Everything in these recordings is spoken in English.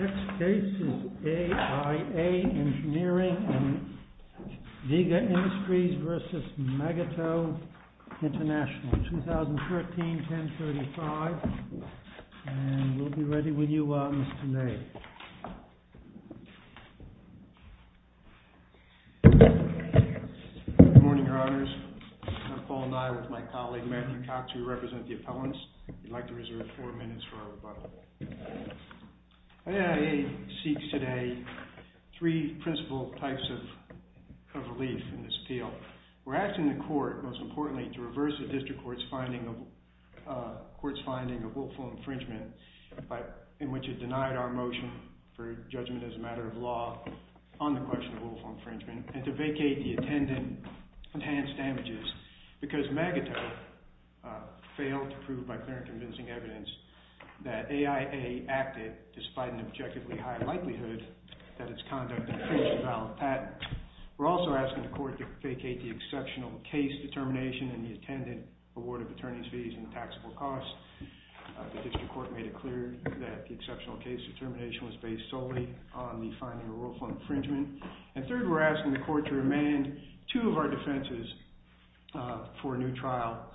Next case is AIA Engineering and Viga Industries versus Megato International, 2013-10-35. And we'll be ready with you, Mr. May. Good morning, Your Honors. I'm Paul Nye with my colleague, Matthew Cox, who represents the appellants. I'd like to reserve four minutes for our rebuttal. AIA seeks today three principal types of relief in this appeal. We're asking the court, most importantly, to reverse the district court's finding of willful infringement in which it denied our motion for judgment as a matter of law on the question of willful infringement and to vacate the attendant's enhanced damages because Megato failed to prove by clear and convincing evidence that AIA acted despite an objectively high likelihood that its conduct infringed a valid patent. We're also asking the court to vacate the exceptional case determination in the attendant award of attorney's fees and taxable costs. The district court made it clear that the exceptional case determination was based solely on the finding of willful infringement. And third, we're asking the court to remand two of our defenses for a new trial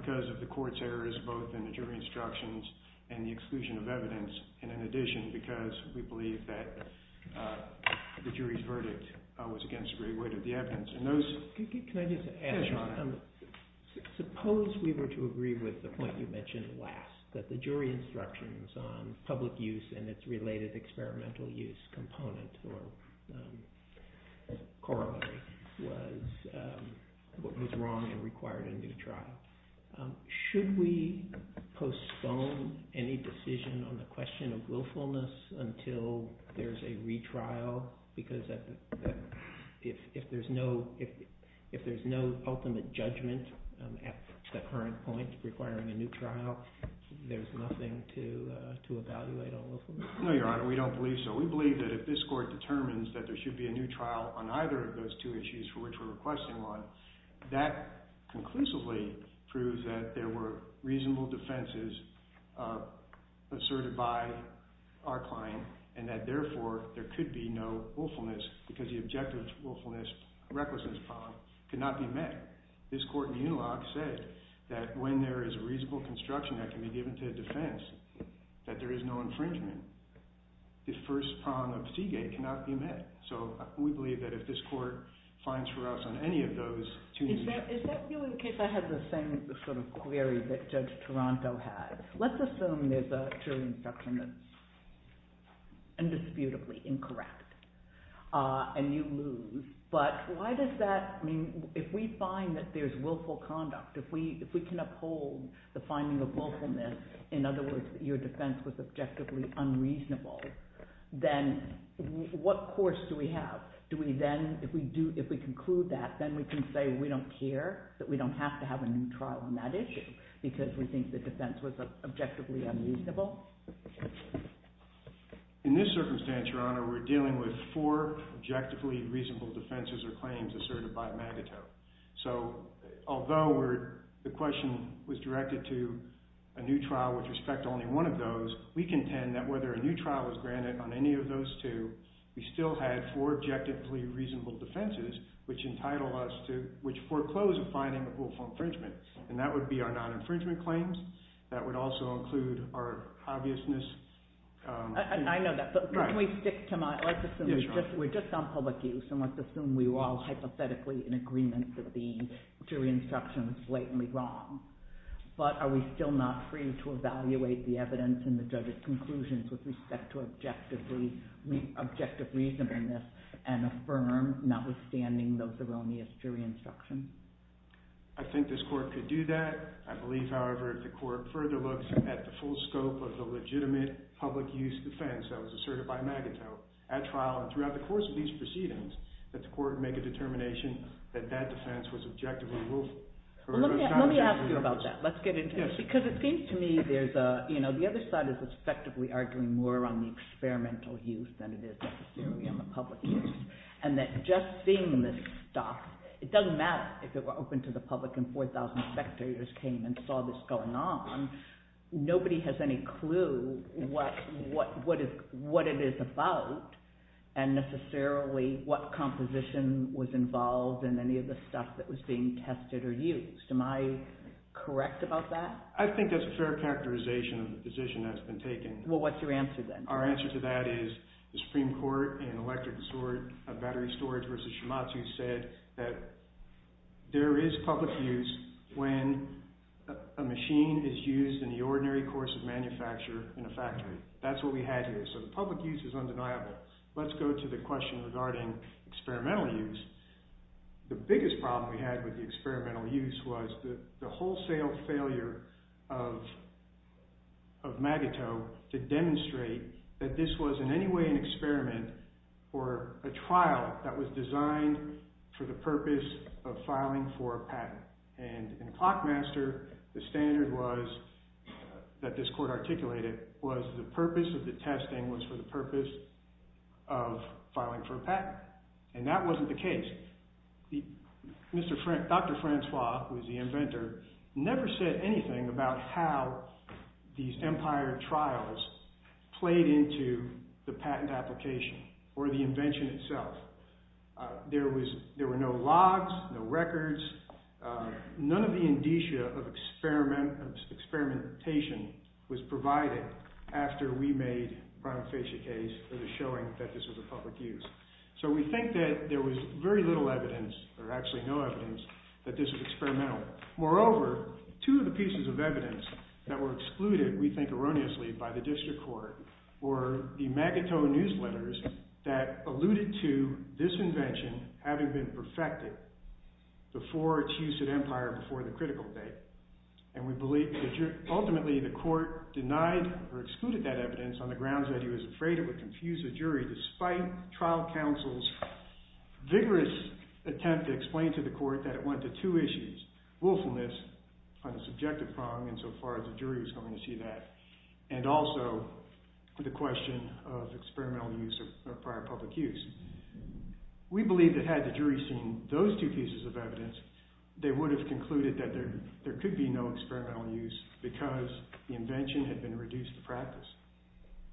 because of the court's errors both in the jury instructions and the exclusion of evidence, and in addition because we believe that the jury's verdict was against the great weight of the evidence. Can I just add, John? Suppose we were to agree with the point you mentioned last, that the jury instructions on public use and its related experimental use component or corollary was what was wrong and required a new trial. Should we postpone any decision on the question of willfulness until there's a retrial? Because if there's no ultimate judgment at that current point requiring a new trial, there's nothing to evaluate on willfulness? No, Your Honor. We don't believe so. We believe that if this court determines that there should be a new trial on either of those two issues for which we're requesting one, that conclusively proves that there were reasonable because the objective willfulness, recklessness problem, could not be met. This court in the unilogue said that when there is a reasonable construction that can be given to a defense, that there is no infringement. The first problem of Seagate cannot be met. So we believe that if this court finds for us on any of those two issues... Is that really the case? I have the same sort of query that Judge Toronto has. Let's assume there's a jury instruction that's indisputably incorrect and you lose. But why does that... I mean, if we find that there's willful conduct, if we can uphold the finding of willfulness, in other words, that your defense was objectively unreasonable, then what course do we have? Do we then... If we conclude that, then we can say we don't care, that we don't have to have a new trial on that issue because we think the defense was objectively unreasonable. In this circumstance, Your Honor, we're dealing with four objectively reasonable defenses or claims asserted by Magato. So, although the question was directed to a new trial with respect to only one of those, we contend that whether a new trial was granted on any of those two, we still had four objectively reasonable defenses which foreclosed the finding of willful infringement. And that would be our non-infringement claims. That would also include our obviousness... I know that, but can we stick to my... Let's assume we're just on public use and let's assume we were all hypothetically in agreement that the jury instruction was blatantly wrong. But are we still not free to evaluate the evidence and the judge's conclusions with respect to objective reasonableness and affirm notwithstanding those erroneous jury instructions? I think this court could do that. I believe, however, the court further looks at the full scope of the legitimate public use defense that was asserted by Magato at trial and throughout the course of these proceedings that the court make a determination that that defense was objectively willful. Let me ask you about that. Let's get into it. Because it seems to me there's a... The other side is effectively arguing more on the experimental use than it is necessarily on the public use. And that just seeing this stuff, it doesn't matter if it were open to the public and 4,000 spectators came and saw this going on. Nobody has any clue what it is about and necessarily what composition was involved in any of the stuff that was being tested or used. Am I correct about that? I think that's a fair characterization of the position that's been taken. Well, what's your answer then? Our answer to that is the Supreme Court in Electric Disorder of Battery Storage v. Shimatsu said that there is public use when a machine is used in the ordinary course of manufacture in a factory. That's what we had here. So the public use is undeniable. Let's go to the question regarding experimental use. The biggest problem we had with the experimental use was the wholesale failure of Magato to demonstrate that this was in any way an experiment or a trial that was designed for the purpose of filing for a patent. And in Clockmaster, the standard that this court articulated was the purpose of the testing and that wasn't the case. Dr. Francois, who was the inventor, never said anything about how these Empire trials played into the patent application or the invention itself. There were no logs, no records, none of the indicia of experimentation was provided after we made the Bromfacia case for the showing that this was a public use. So we think that there was very little evidence, or actually no evidence, that this was experimental. Moreover, two of the pieces of evidence that were excluded, we think erroneously, by the district court were the Magato newsletters that alluded to this invention having been perfected before its use at Empire, before the critical date. And we believe that ultimately the court denied or excluded that evidence on the grounds that he was afraid it would confuse the jury despite trial counsel's vigorous attempt to explain to the court that it went to two issues, willfulness on the subjective prong insofar as the jury was going to see that, and also the question of experimental use or prior public use. We believe that had the jury seen those two pieces of evidence, they would have concluded that there could be no experimental use because the invention had been reduced to practice.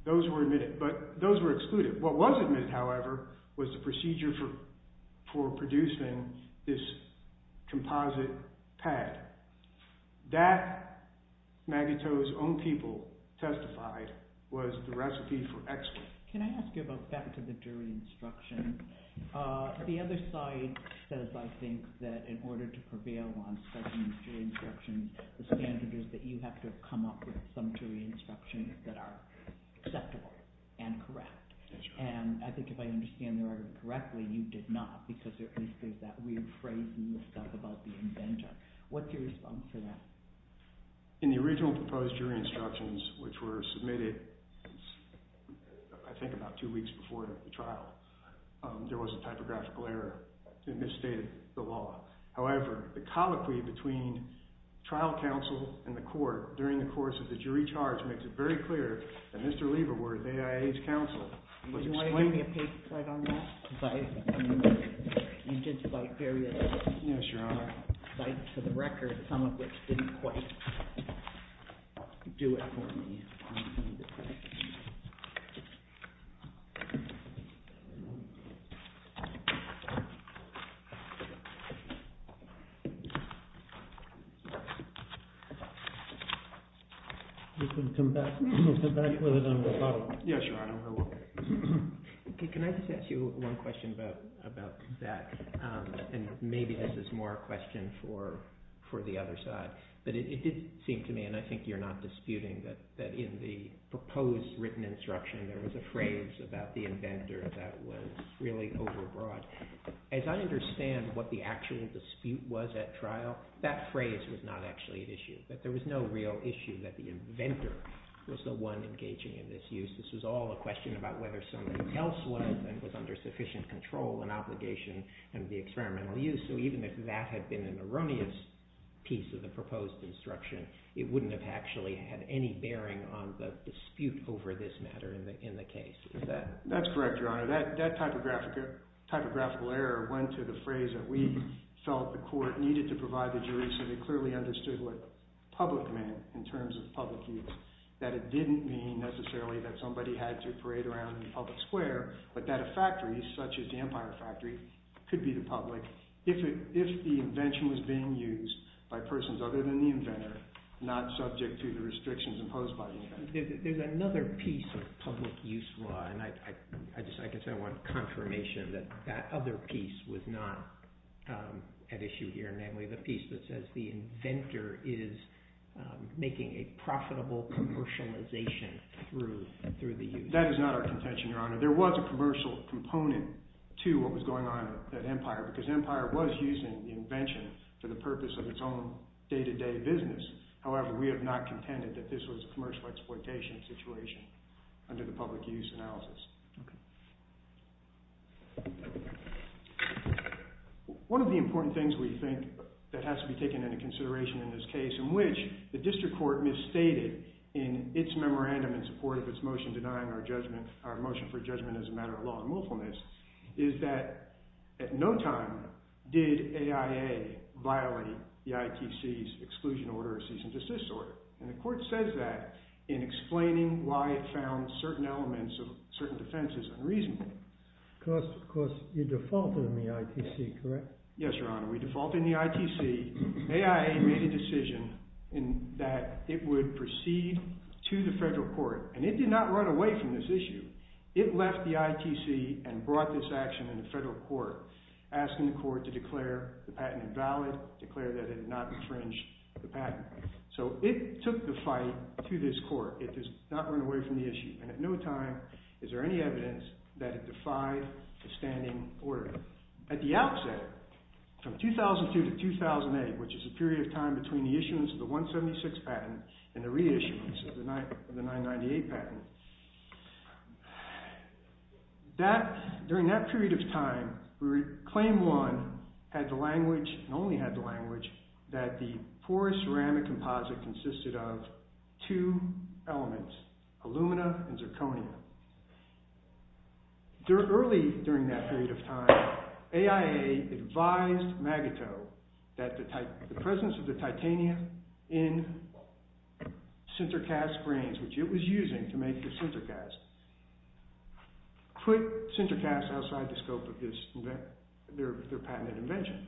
Those were admitted, but those were excluded. What was admitted, however, was the procedure for producing this composite pad. That, Magato's own people testified, was the recipe for excellence. Can I ask you about back to the jury instruction? The other side says, I think, that in order to prevail on certain jury instructions, the standard is that you have to come up with some jury instructions that are acceptable and correct. And I think if I understand the argument correctly, you did not because there is that weird phrase in the stuff about the invention. What's your response to that? In the original proposed jury instructions, which were submitted I think about two weeks before the trial, there was a typographical error. It misstated the law. However, the colloquy between trial counsel and the court during the course of the jury charge makes it very clear that Mr. Lieberworth, AIA's counsel, was explaining... Do you want to give me a paperclip on that? Because I remember you did cite various... Yes, Your Honor. Cites to the record, some of which didn't quite do it for me. You can come back with it on the bottom. Yes, Your Honor, I will. Can I just ask you one question about that? And maybe this is more a question for the other side. But it did seem to me, and I think you're not disputing, that in the proposed written instruction there was a phrase about the inventor that was really overbroad. As I understand what the actual dispute was at trial, that phrase was not actually an issue. That there was no real issue that the inventor was the one engaging in this use. This was all a question about whether someone else was and was under sufficient control and obligation and the experimental use. So even if that had been an erroneous piece of the proposed instruction, it wouldn't have actually had any bearing on the dispute over this matter in the case. That's correct, Your Honor. That typographical error went to the phrase that we felt the court needed to provide the jury so they clearly understood what public meant in terms of public use. That it didn't mean necessarily that somebody had to parade around in a public square, but that a factory, such as the Empire Factory, could be the public if the invention was being used by persons other than the inventor, not subject to the restrictions imposed by the inventor. There's another piece of public use law, and I guess I want confirmation that that other piece was not at issue here, namely the piece that says the inventor is making a profitable commercialization through the use. That is not our contention, Your Honor. There was a commercial component to what was going on at Empire, because Empire was using the invention for the purpose of its own day-to-day business. However, we have not contended that this was a commercial exploitation situation under the public use analysis. One of the important things we think that has to be taken into consideration in this case, in which the district court misstated in its memorandum in support of its motion denying our motion for judgment as a matter of law and willfulness, is that at no time did AIA violate the ITC's exclusion order or cease and desist order. And the court says that in explaining why it found certain elements of certain defenses unreasonable. Because you defaulted on the ITC, correct? Yes, Your Honor. We defaulted on the ITC. AIA made a decision that it would proceed to the federal court. And it did not run away from this issue. It left the ITC and brought this action in the federal court, asking the court to declare the patent invalid, declare that it had not infringed the patent. So it took the fight to this court. It did not run away from the issue. And at no time is there any evidence that it defied the standing order. At the outset, from 2002 to 2008, which is the period of time between the issuance of the 998 patent, during that period of time, Claim 1 had the language, and only had the language, that the porous ceramic composite consisted of two elements, alumina and zirconia. Early during that period of time, AIA advised MAGITO that the presence of the titania in Sinterkast grains, which it was using to make the Sinterkast, put Sinterkast outside the scope of their patented invention.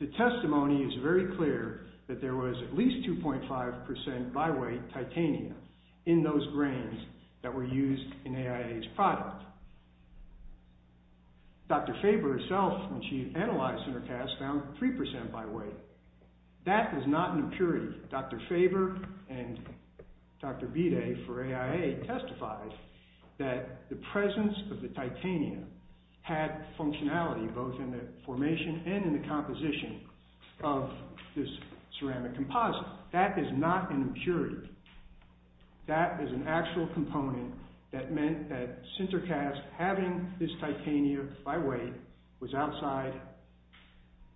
The testimony is very clear that there was at least 2.5% by weight titania in those grains that were used in AIA's product. Dr. Faber herself, when she analyzed Sinterkast, found 3% by weight. That is not an impurity. Dr. Faber and Dr. Bide for AIA testified that the presence of the titania had functionality both in the formation and in the composition of this ceramic composite. That is not an impurity. That is an actual component that meant that Sinterkast, having this titania by weight, was outside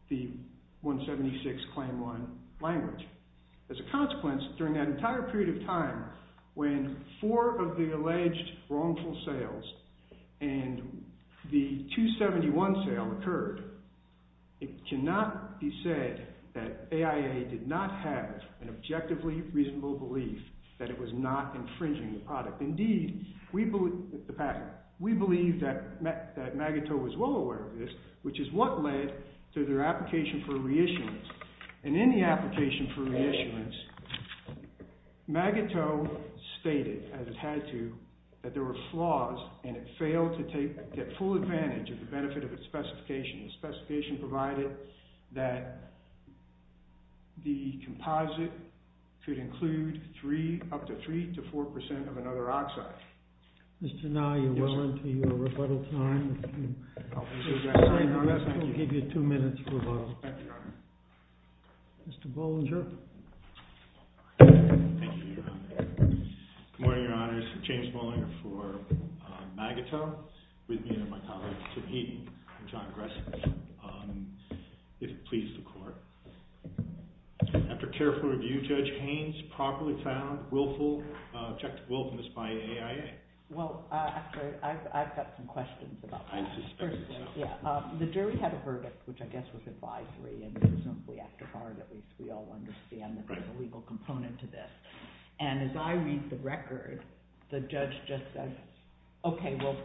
the 176 Claim 1 language. As a consequence, during that entire period of time, when four of the alleged wrongful sales and the 271 sale occurred, it cannot be said that AIA did not have an objectively reasonable belief that it was not infringing the product. Indeed, we believe that Magatow was well aware of this, which is what led to their application for reissuance. In the application for reissuance, Magatow stated, as it had to, that there were flaws and it failed to take full advantage of the benefit of its specification. The specification provided that the composite could include up to 3% to 4% of another oxide. Mr. Nye, you're well into your rebuttal time. I'll give you two minutes for rebuttal. Thank you, Your Honor. Mr. Bollinger. Good morning, Your Honors. James Bollinger for Magatow, with me are my colleagues Tim Heaton and John Gressen, if it pleases the Court. After careful review, Judge Haynes properly found objective willfulness by AIA. Well, actually, I've got some questions about that. I suspect so. Yeah. The jury had a verdict, which I guess was advisory, and presumably after hard, at least we all understand that there's a legal component to this. And as I read the record, the judge just says, okay, well,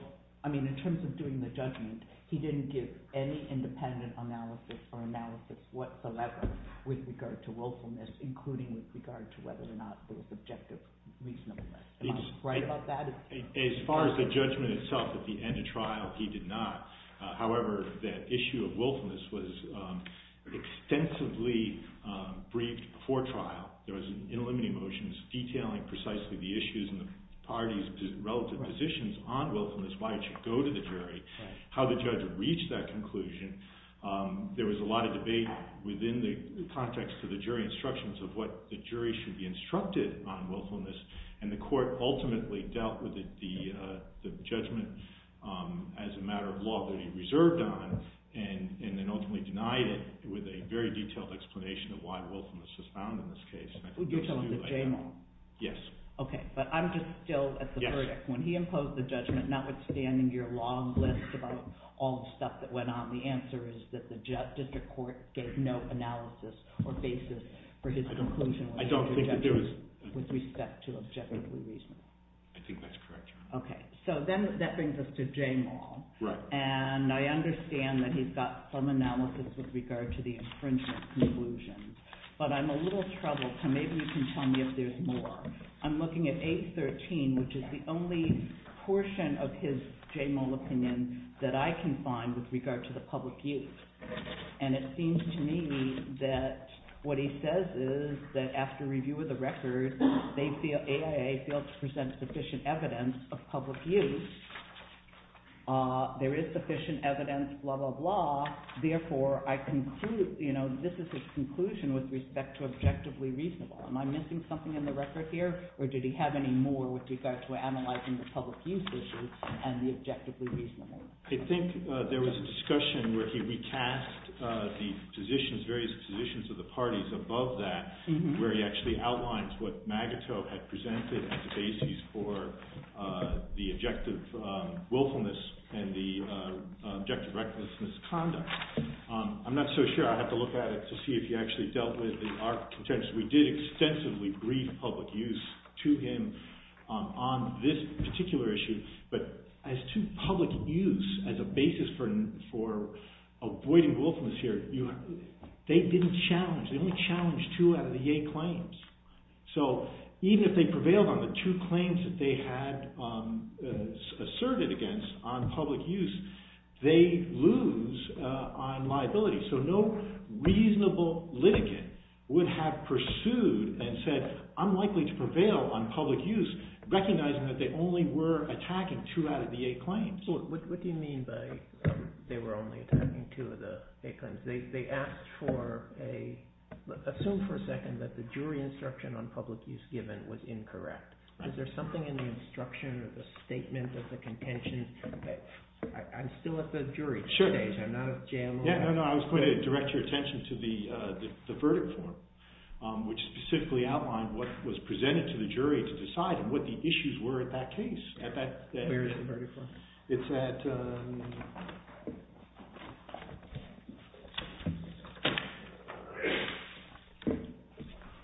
I mean, in terms of doing the judgment, he didn't give any independent analysis or analysis whatsoever with regard to willfulness, including with regard to whether or not there was objective reasonableness. Am I right about that? As far as the judgment itself at the end of trial, he did not. However, that issue of willfulness was extensively briefed before trial. There was an in eliminating motion detailing precisely the issues and the parties' relative positions on willfulness, why it should go to the jury, how the judge would reach that conclusion. There was a lot of debate within the context of the jury instructions of what the jury should be instructed on willfulness, and the Court ultimately dealt with the judgment as a matter of law to be reserved on and then ultimately denied it with a very detailed explanation of why willfulness is found in this case. Would you tell us that Jay Maul? Yes. Okay, but I'm just still at the verdict. When he imposed the judgment, notwithstanding your long list about all the stuff that went on, the answer is that the district court gave no analysis or basis for his conclusion with respect to objectively reasonable. I think that's correct. Okay, so then that brings us to Jay Maul. Right. And I understand that he's got some analysis with regard to the infringement conclusions, but I'm a little troubled, so maybe you can tell me if there's more. I'm looking at 813, which is the only portion of his Jay Maul opinion that I can find with regard to the public use, and it seems to me that what he says is that after review of the record, AIA failed to present sufficient evidence of public use. There is sufficient evidence, blah, blah, blah. Therefore, this is his conclusion with respect to objectively reasonable. Am I missing something in the record here, or did he have any more with regard to analyzing the public use issue and the objectively reasonable? I think there was a discussion where he recast the various positions of the parties above that where he actually outlines what Magatow had presented as the basis for the objective willfulness and the objective recklessness conduct. I'm not so sure. I'll have to look at it to see if he actually dealt with the arch contentious. We did extensively brief public use to him on this particular issue, but as to public use as a basis for avoiding willfulness here, they didn't challenge. They only challenged two out of the eight claims. So even if they prevailed on the two claims that they had asserted against on public use, they lose on liability. So no reasonable litigant would have pursued and said I'm likely to prevail on public use recognizing that they only were attacking two out of the eight claims. What do you mean by they were only attacking two of the eight claims? They asked for a – assume for a second that the jury instruction on public use given was incorrect. Is there something in the instruction or the statement of the contention? I'm still at the jury stage. I'm not a JMO. No, no. I was going to direct your attention to the verdict form, which specifically outlined what was presented to the jury to decide what the issues were at that case. Where is the verdict form? It's at –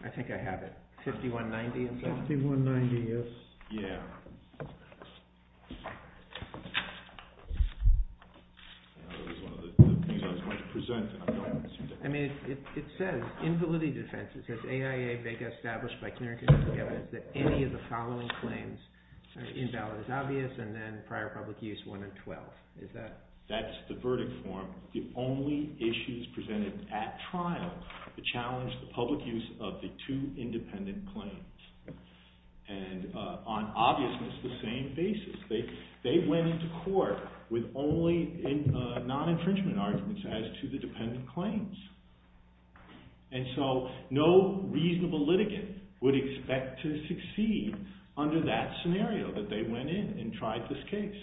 I think I have it. 5190, is that right? 5190, yes. Yeah. That was one of the things I was going to present and I'm going to – I mean it says in validity defense, it says AIA Vega established by clear and consistent evidence that any of the following claims in ballot is obvious and then prior public use 1 and 12. Is that – That's the verdict form. The only issues presented at trial to challenge the public use of the two independent claims. And on obviousness, the same basis. They went into court with only non-infringement arguments as to the dependent claims. And so no reasonable litigant would expect to succeed under that scenario that they went in and tried this case.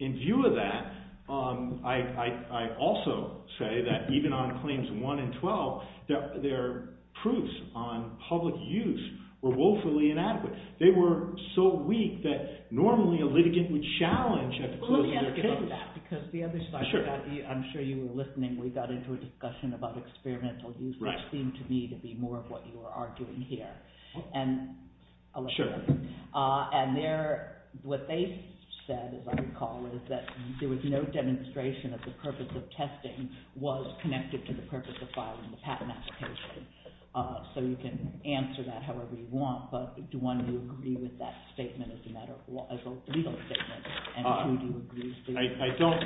In view of that, I also say that even on claims 1 and 12, their proofs on public use were woefully inadequate. They were so weak that normally a litigant would challenge at the closing of their case. I'm sure you were listening. We got into a discussion about experimental use, which seemed to me to be more of what you were arguing here. And what they said, as I recall, is that there was no demonstration that the purpose of testing was connected to the purpose of filing the patent application. So you can answer that however you want, but do you want to agree with that statement as a legal statement? I don't.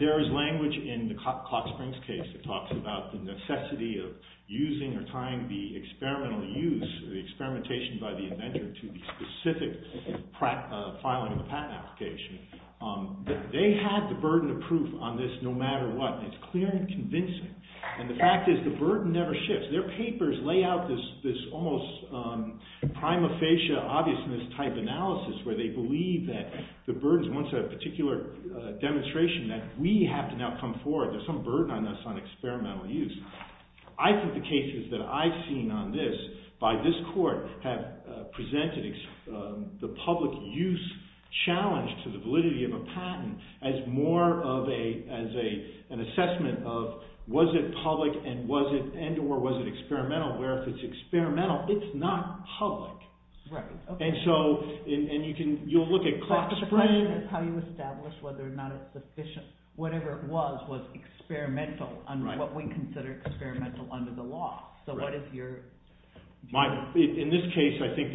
There is language in the Cox-Springs case that talks about the necessity of using or tying the experimental use, the experimentation by the inventor to the specific filing of the patent application. They had the burden of proof on this no matter what. It's clear and convincing. And the fact is the burden never shifts. Their papers lay out this almost prima facie obviousness type analysis where they believe that the burden is once a particular demonstration that we have to now come forward. There's some burden on us on experimental use. I think the cases that I've seen on this by this court have presented the public use challenge to the validity of a patent as more of an assessment of was it public and or was it experimental, where if it's experimental, it's not public. And so you'll look at Cox-Springs. But the question is how you establish whether or not it's sufficient. Whatever it was, was experimental under what we consider experimental under the law. So what is your view? In this case, I think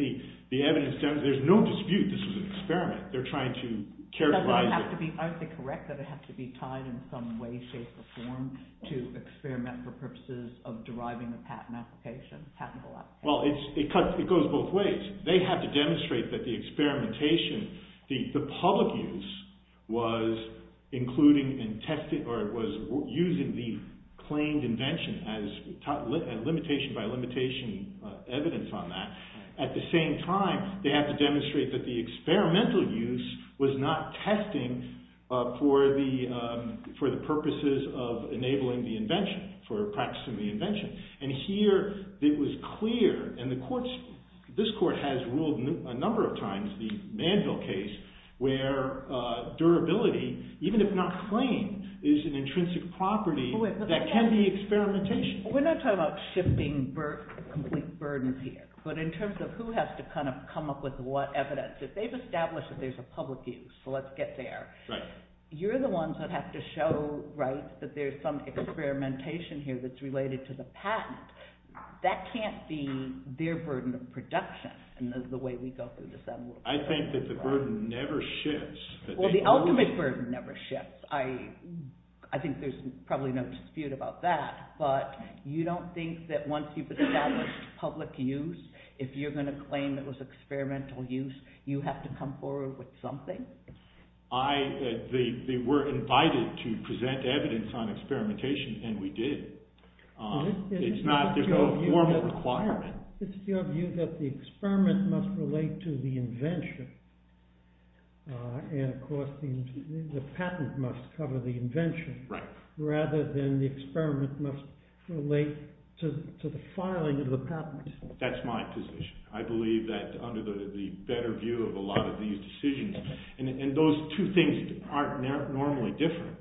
the evidence, there's no dispute this was an experiment. They're trying to characterize it. Aren't they correct that it has to be tied in some way, shape or form to experiment for purposes of deriving a patent application, patentable application? Well, it goes both ways. They have to demonstrate that the experimentation, the public use was including and testing or it was using the claimed invention as limitation by limitation evidence on that. At the same time, they have to demonstrate that the experimental use was not testing for the purposes of enabling the invention, for practicing the invention. And here it was clear, and this court has ruled a number of times, the Manville case, where durability, even if not claimed, is an intrinsic property that can be experimentation. We're not talking about shifting complete burdens here. But in terms of who has to kind of come up with what evidence, if they've established that there's a public use, so let's get there. You're the ones that have to show that there's some experimentation here that's related to the patent. That can't be their burden of production in the way we go through this. I think that the burden never shifts. Well, the ultimate burden never shifts. I think there's probably no dispute about that. But you don't think that once you've established public use, if you're going to claim it was experimental use, you have to come forward with something? They were invited to present evidence on experimentation, and we did. There's no formal requirement. It's your view that the experiment must relate to the invention, and of course the patent must cover the invention, rather than the experiment must relate to the filing of the patent. That's my position. I believe that under the better view of a lot of these decisions, and those two things aren't normally different,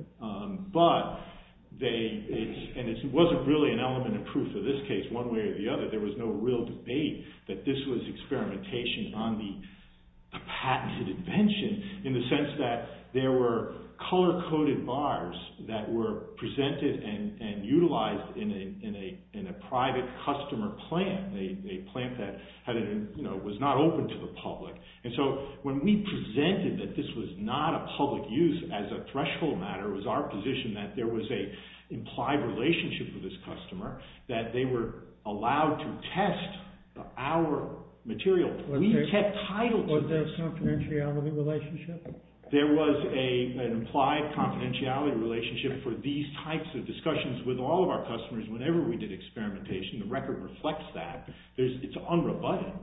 and it wasn't really an element of proof in this case. One way or the other, there was no real debate that this was experimentation on the patented invention in the sense that there were color-coded bars that were presented and utilized in a private customer plant, and a plant that was not open to the public. And so when we presented that this was not a public use as a threshold matter, it was our position that there was an implied relationship with this customer, that they were allowed to test our material. We kept title to this. Was there a confidentiality relationship? There was an implied confidentiality relationship for these types of discussions with all of our customers whenever we did experimentation. The record reflects that. It's unrebutted.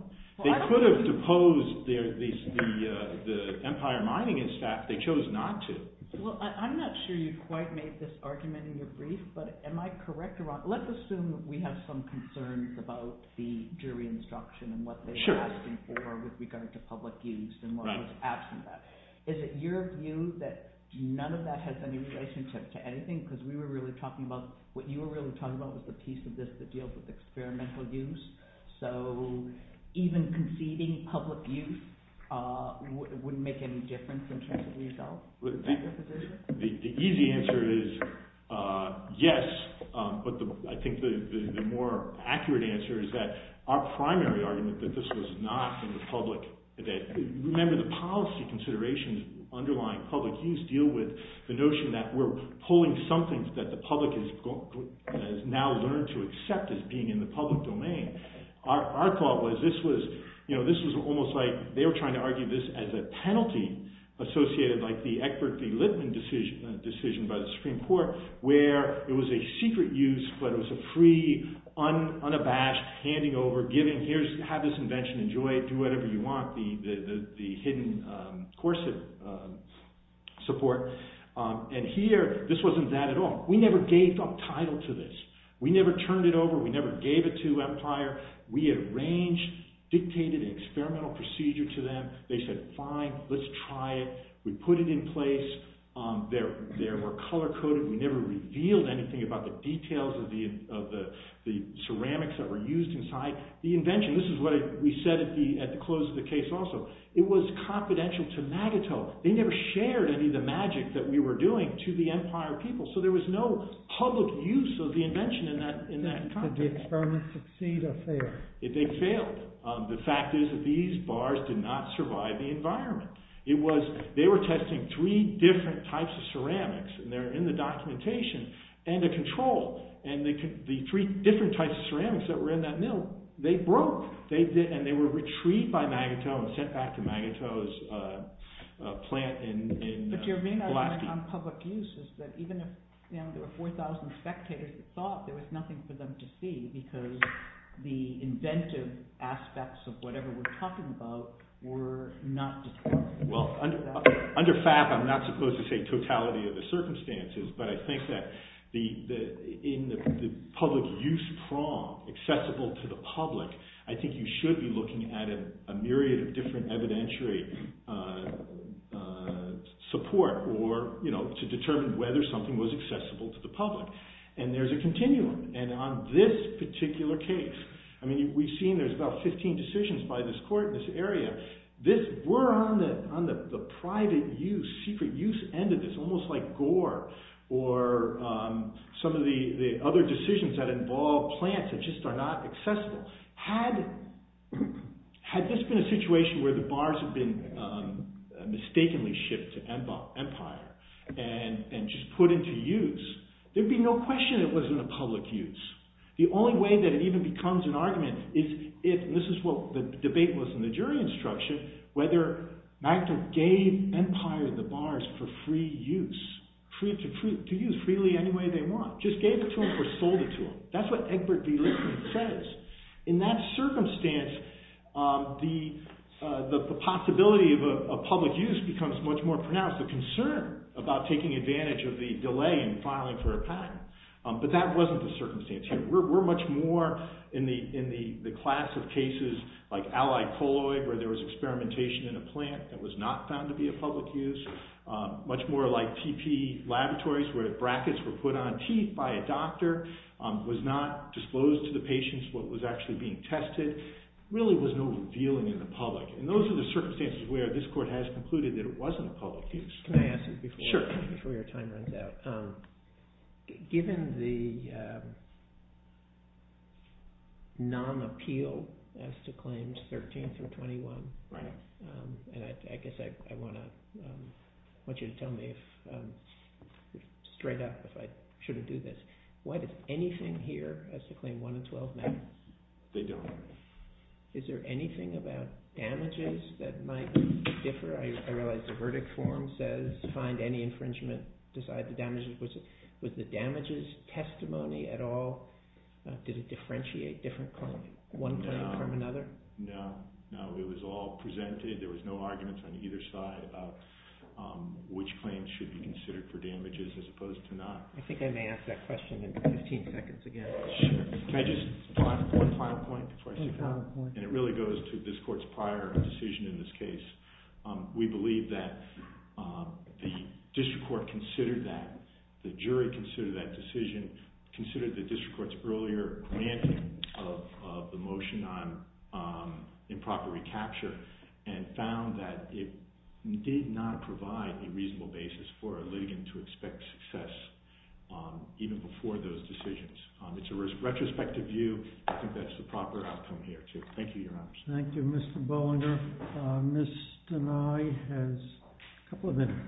They could have deposed the Empire Mining and Staff. They chose not to. Well, I'm not sure you quite made this argument in your brief, but am I correct or wrong? Let's assume that we have some concerns about the jury instruction and what they're asking for with regard to public use and what was absent of that. Is it your view that none of that has any relationship to anything? Because we were really talking about – what you were really talking about was the piece of this that deals with experimental use. So even conceding public use wouldn't make any difference in terms of the result? The easy answer is yes, but I think the more accurate answer is that our primary argument that this was not in the public – remember, the policy considerations underlying public use deal with the notion that we're pulling something that the public has now learned to accept as being in the public domain. Our thought was this was almost like – they were trying to argue this as a penalty associated like the Eckbert v. Lippmann decision by the Supreme Court where it was a secret use, but it was a free, unabashed handing over, giving, have this invention, enjoy it, do whatever you want, the hidden corset support. And here, this wasn't that at all. We never gave up title to this. We never turned it over. We never gave it to Empire. We had arranged, dictated an experimental procedure to them. They said, fine, let's try it. We put it in place. There were color coded. We never revealed anything about the details of the ceramics that were used inside. The invention, this is what we said at the close of the case also, it was confidential to MAGITO. They never shared any of the magic that we were doing to the Empire people, so there was no public use of the invention in that context. Did the experiment succeed or fail? They failed. The fact is that these bars did not survive the environment. It was, they were testing three different types of ceramics, and they're in the documentation, and the control, and the three different types of ceramics that were in that mill, they broke. And they were retrieved by MAGITO and sent back to MAGITO's plant in Glasgow. But your main argument on public use is that even if there were 4,000 spectators that saw it, there was nothing for them to see because the inventive aspects of whatever we're talking about were not determined. Well, under FAP, I'm not supposed to say totality of the circumstances, but I think that in the public use prong, accessible to the public, I think you should be looking at a myriad of different evidentiary support to determine whether something was accessible to the public. And there's a continuum. And on this particular case, I mean, we've seen there's about 15 decisions by this court in this area. This, we're on the private use, secret use end of this, almost like gore, or some of the other decisions that involve plants that just are not accessible. Had this been a situation where the bars had been mistakenly shipped to Empire and just put into use, there'd be no question it wasn't a public use. The only way that it even becomes an argument is if, and this is what the debate was in the jury instruction, whether MAGITO gave Empire the bars for free use, to use freely any way they want, just gave it to them or sold it to them. That's what Egbert B. Lippmann says. In that circumstance, the possibility of a public use becomes much more pronounced. The concern about taking advantage of the delay in filing for a patent. But that wasn't the circumstance here. We're much more in the class of cases like allied colloid where there was experimentation in a plant that was not found to be a public use. Much more like TP laboratories where brackets were put on teeth by a doctor. Was not disclosed to the patients what was actually being tested. Really was no revealing in the public. And those are the circumstances where this court has concluded that it wasn't a public use. Can I ask you before your time runs out? Sure. Given the non-appeal as to claims 13 through 21, and I guess I want you to tell me straight up if I shouldn't do this. Why does anything here as to claim 1 and 12 matter? They don't. Is there anything about damages that might differ? I realize the verdict form says find any infringement, decide the damages. Was the damages testimony at all? Did it differentiate one claim from another? No. It was all presented. There was no arguments on either side about which claims should be considered for damages as opposed to not. I think I may ask that question in 15 seconds again. Sure. Can I just add one final point before I sit down? One final point. And it really goes to this court's prior decision in this case. We believe that the district court considered that, the jury considered that decision, considered the district court's earlier granting of the motion on improper recapture, and found that it did not provide a reasonable basis for a litigant to expect success even before those decisions. It's a retrospective view. I think that's the proper outcome here, too. Thank you, Your Honor. Thank you, Mr. Boehlinger. Ms. Deneye has a couple of minutes.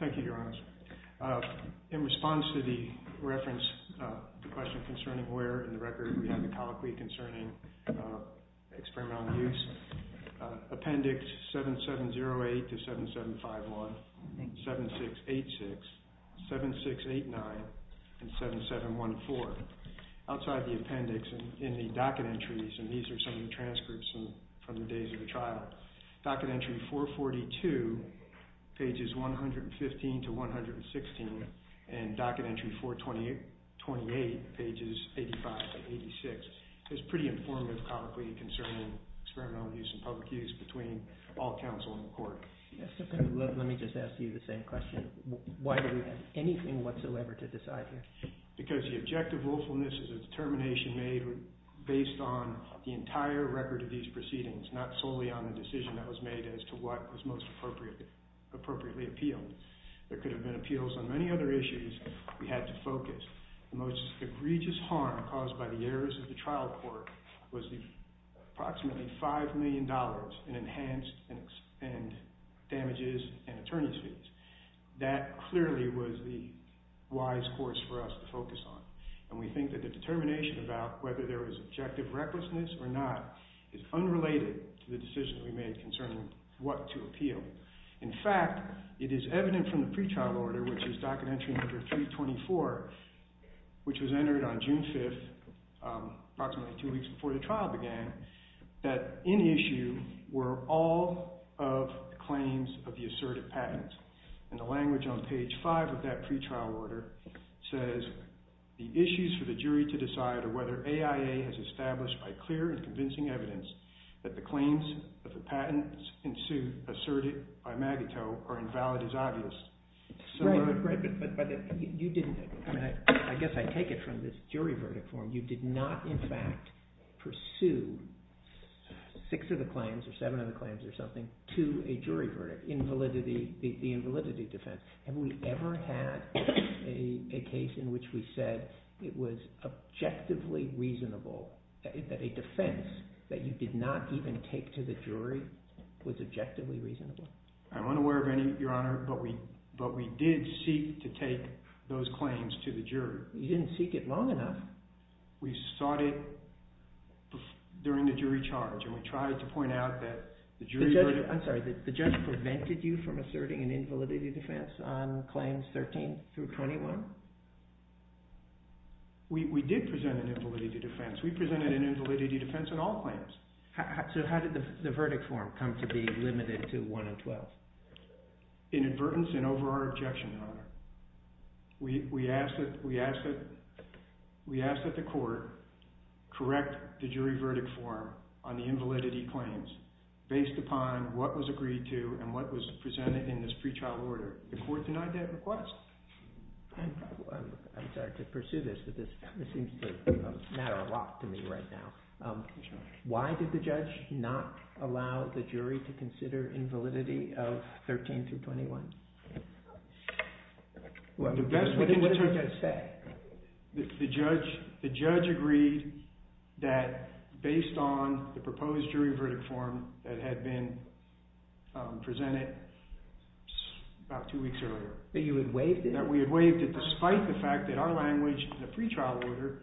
Thank you, Your Honor. In response to the reference, the question concerning where in the record we have the colloquy concerning experimental use, appendix 7708 to 7751, 7686, 7689, and 7714. Outside the appendix in the docket entries, and these are some of the transcripts from the days of the trial, docket entry 442, pages 115 to 116, and docket entry 428, pages 85 to 86, is pretty informative colloquy concerning experimental use and public use between all counsel in the court. Let me just ask you the same question. Why do we have anything whatsoever to decide here? Because the objective willfulness is a determination made based on the entire record of these proceedings, not solely on the decision that was made as to what was most appropriately appealed. There could have been appeals on many other issues. We had to focus. The most egregious harm caused by the errors of the trial court was approximately $5 million in enhanced and damages and attorney's fees. That clearly was the wise course for us to focus on. And we think that the determination about whether there was objective recklessness or not is unrelated to the decision we made concerning what to appeal. In fact, it is evident from the pretrial order, which is docket entry number 324, which was entered on June 5th, approximately two weeks before the trial began, that in issue were all of the claims of the asserted patents. And the language on page 5 of that pretrial order says, The issues for the jury to decide are whether AIA has established by clear and convincing evidence that the claims of the patents in suit asserted by Magato are invalid as obvious. Right, but you didn't – I guess I take it from this jury verdict form. You did not in fact pursue six of the claims or seven of the claims or something to a jury verdict, the invalidity defense. Have we ever had a case in which we said it was objectively reasonable, that a defense that you did not even take to the jury was objectively reasonable? I'm unaware of any, Your Honor, but we did seek to take those claims to the jury. You didn't seek it long enough. We sought it during the jury charge, and we tried to point out that the jury verdict – We did present an invalidity defense. We presented an invalidity defense on all claims. So how did the verdict form come to be limited to 1 and 12? In advertence and over our objection, Your Honor. We asked that the court correct the jury verdict form on the invalidity claims based upon what was agreed to and what was presented in this pretrial order. The court denied that request. I'm sorry to pursue this, but this seems to matter a lot to me right now. Why did the judge not allow the jury to consider invalidity of 13 to 21? What did the judge say? The judge agreed that based on the proposed jury verdict form that had been presented about two weeks earlier. That you had waived it? That we had waived it despite the fact that our language in the pretrial order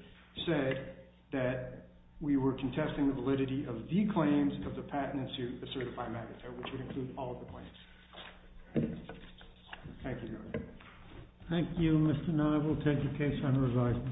said that we were contesting the validity of the claims of the patent in suit, the certified magazine, which would include all of the claims. Thank you, Your Honor. Thank you, Mr. Nye. We'll take the case on revised material.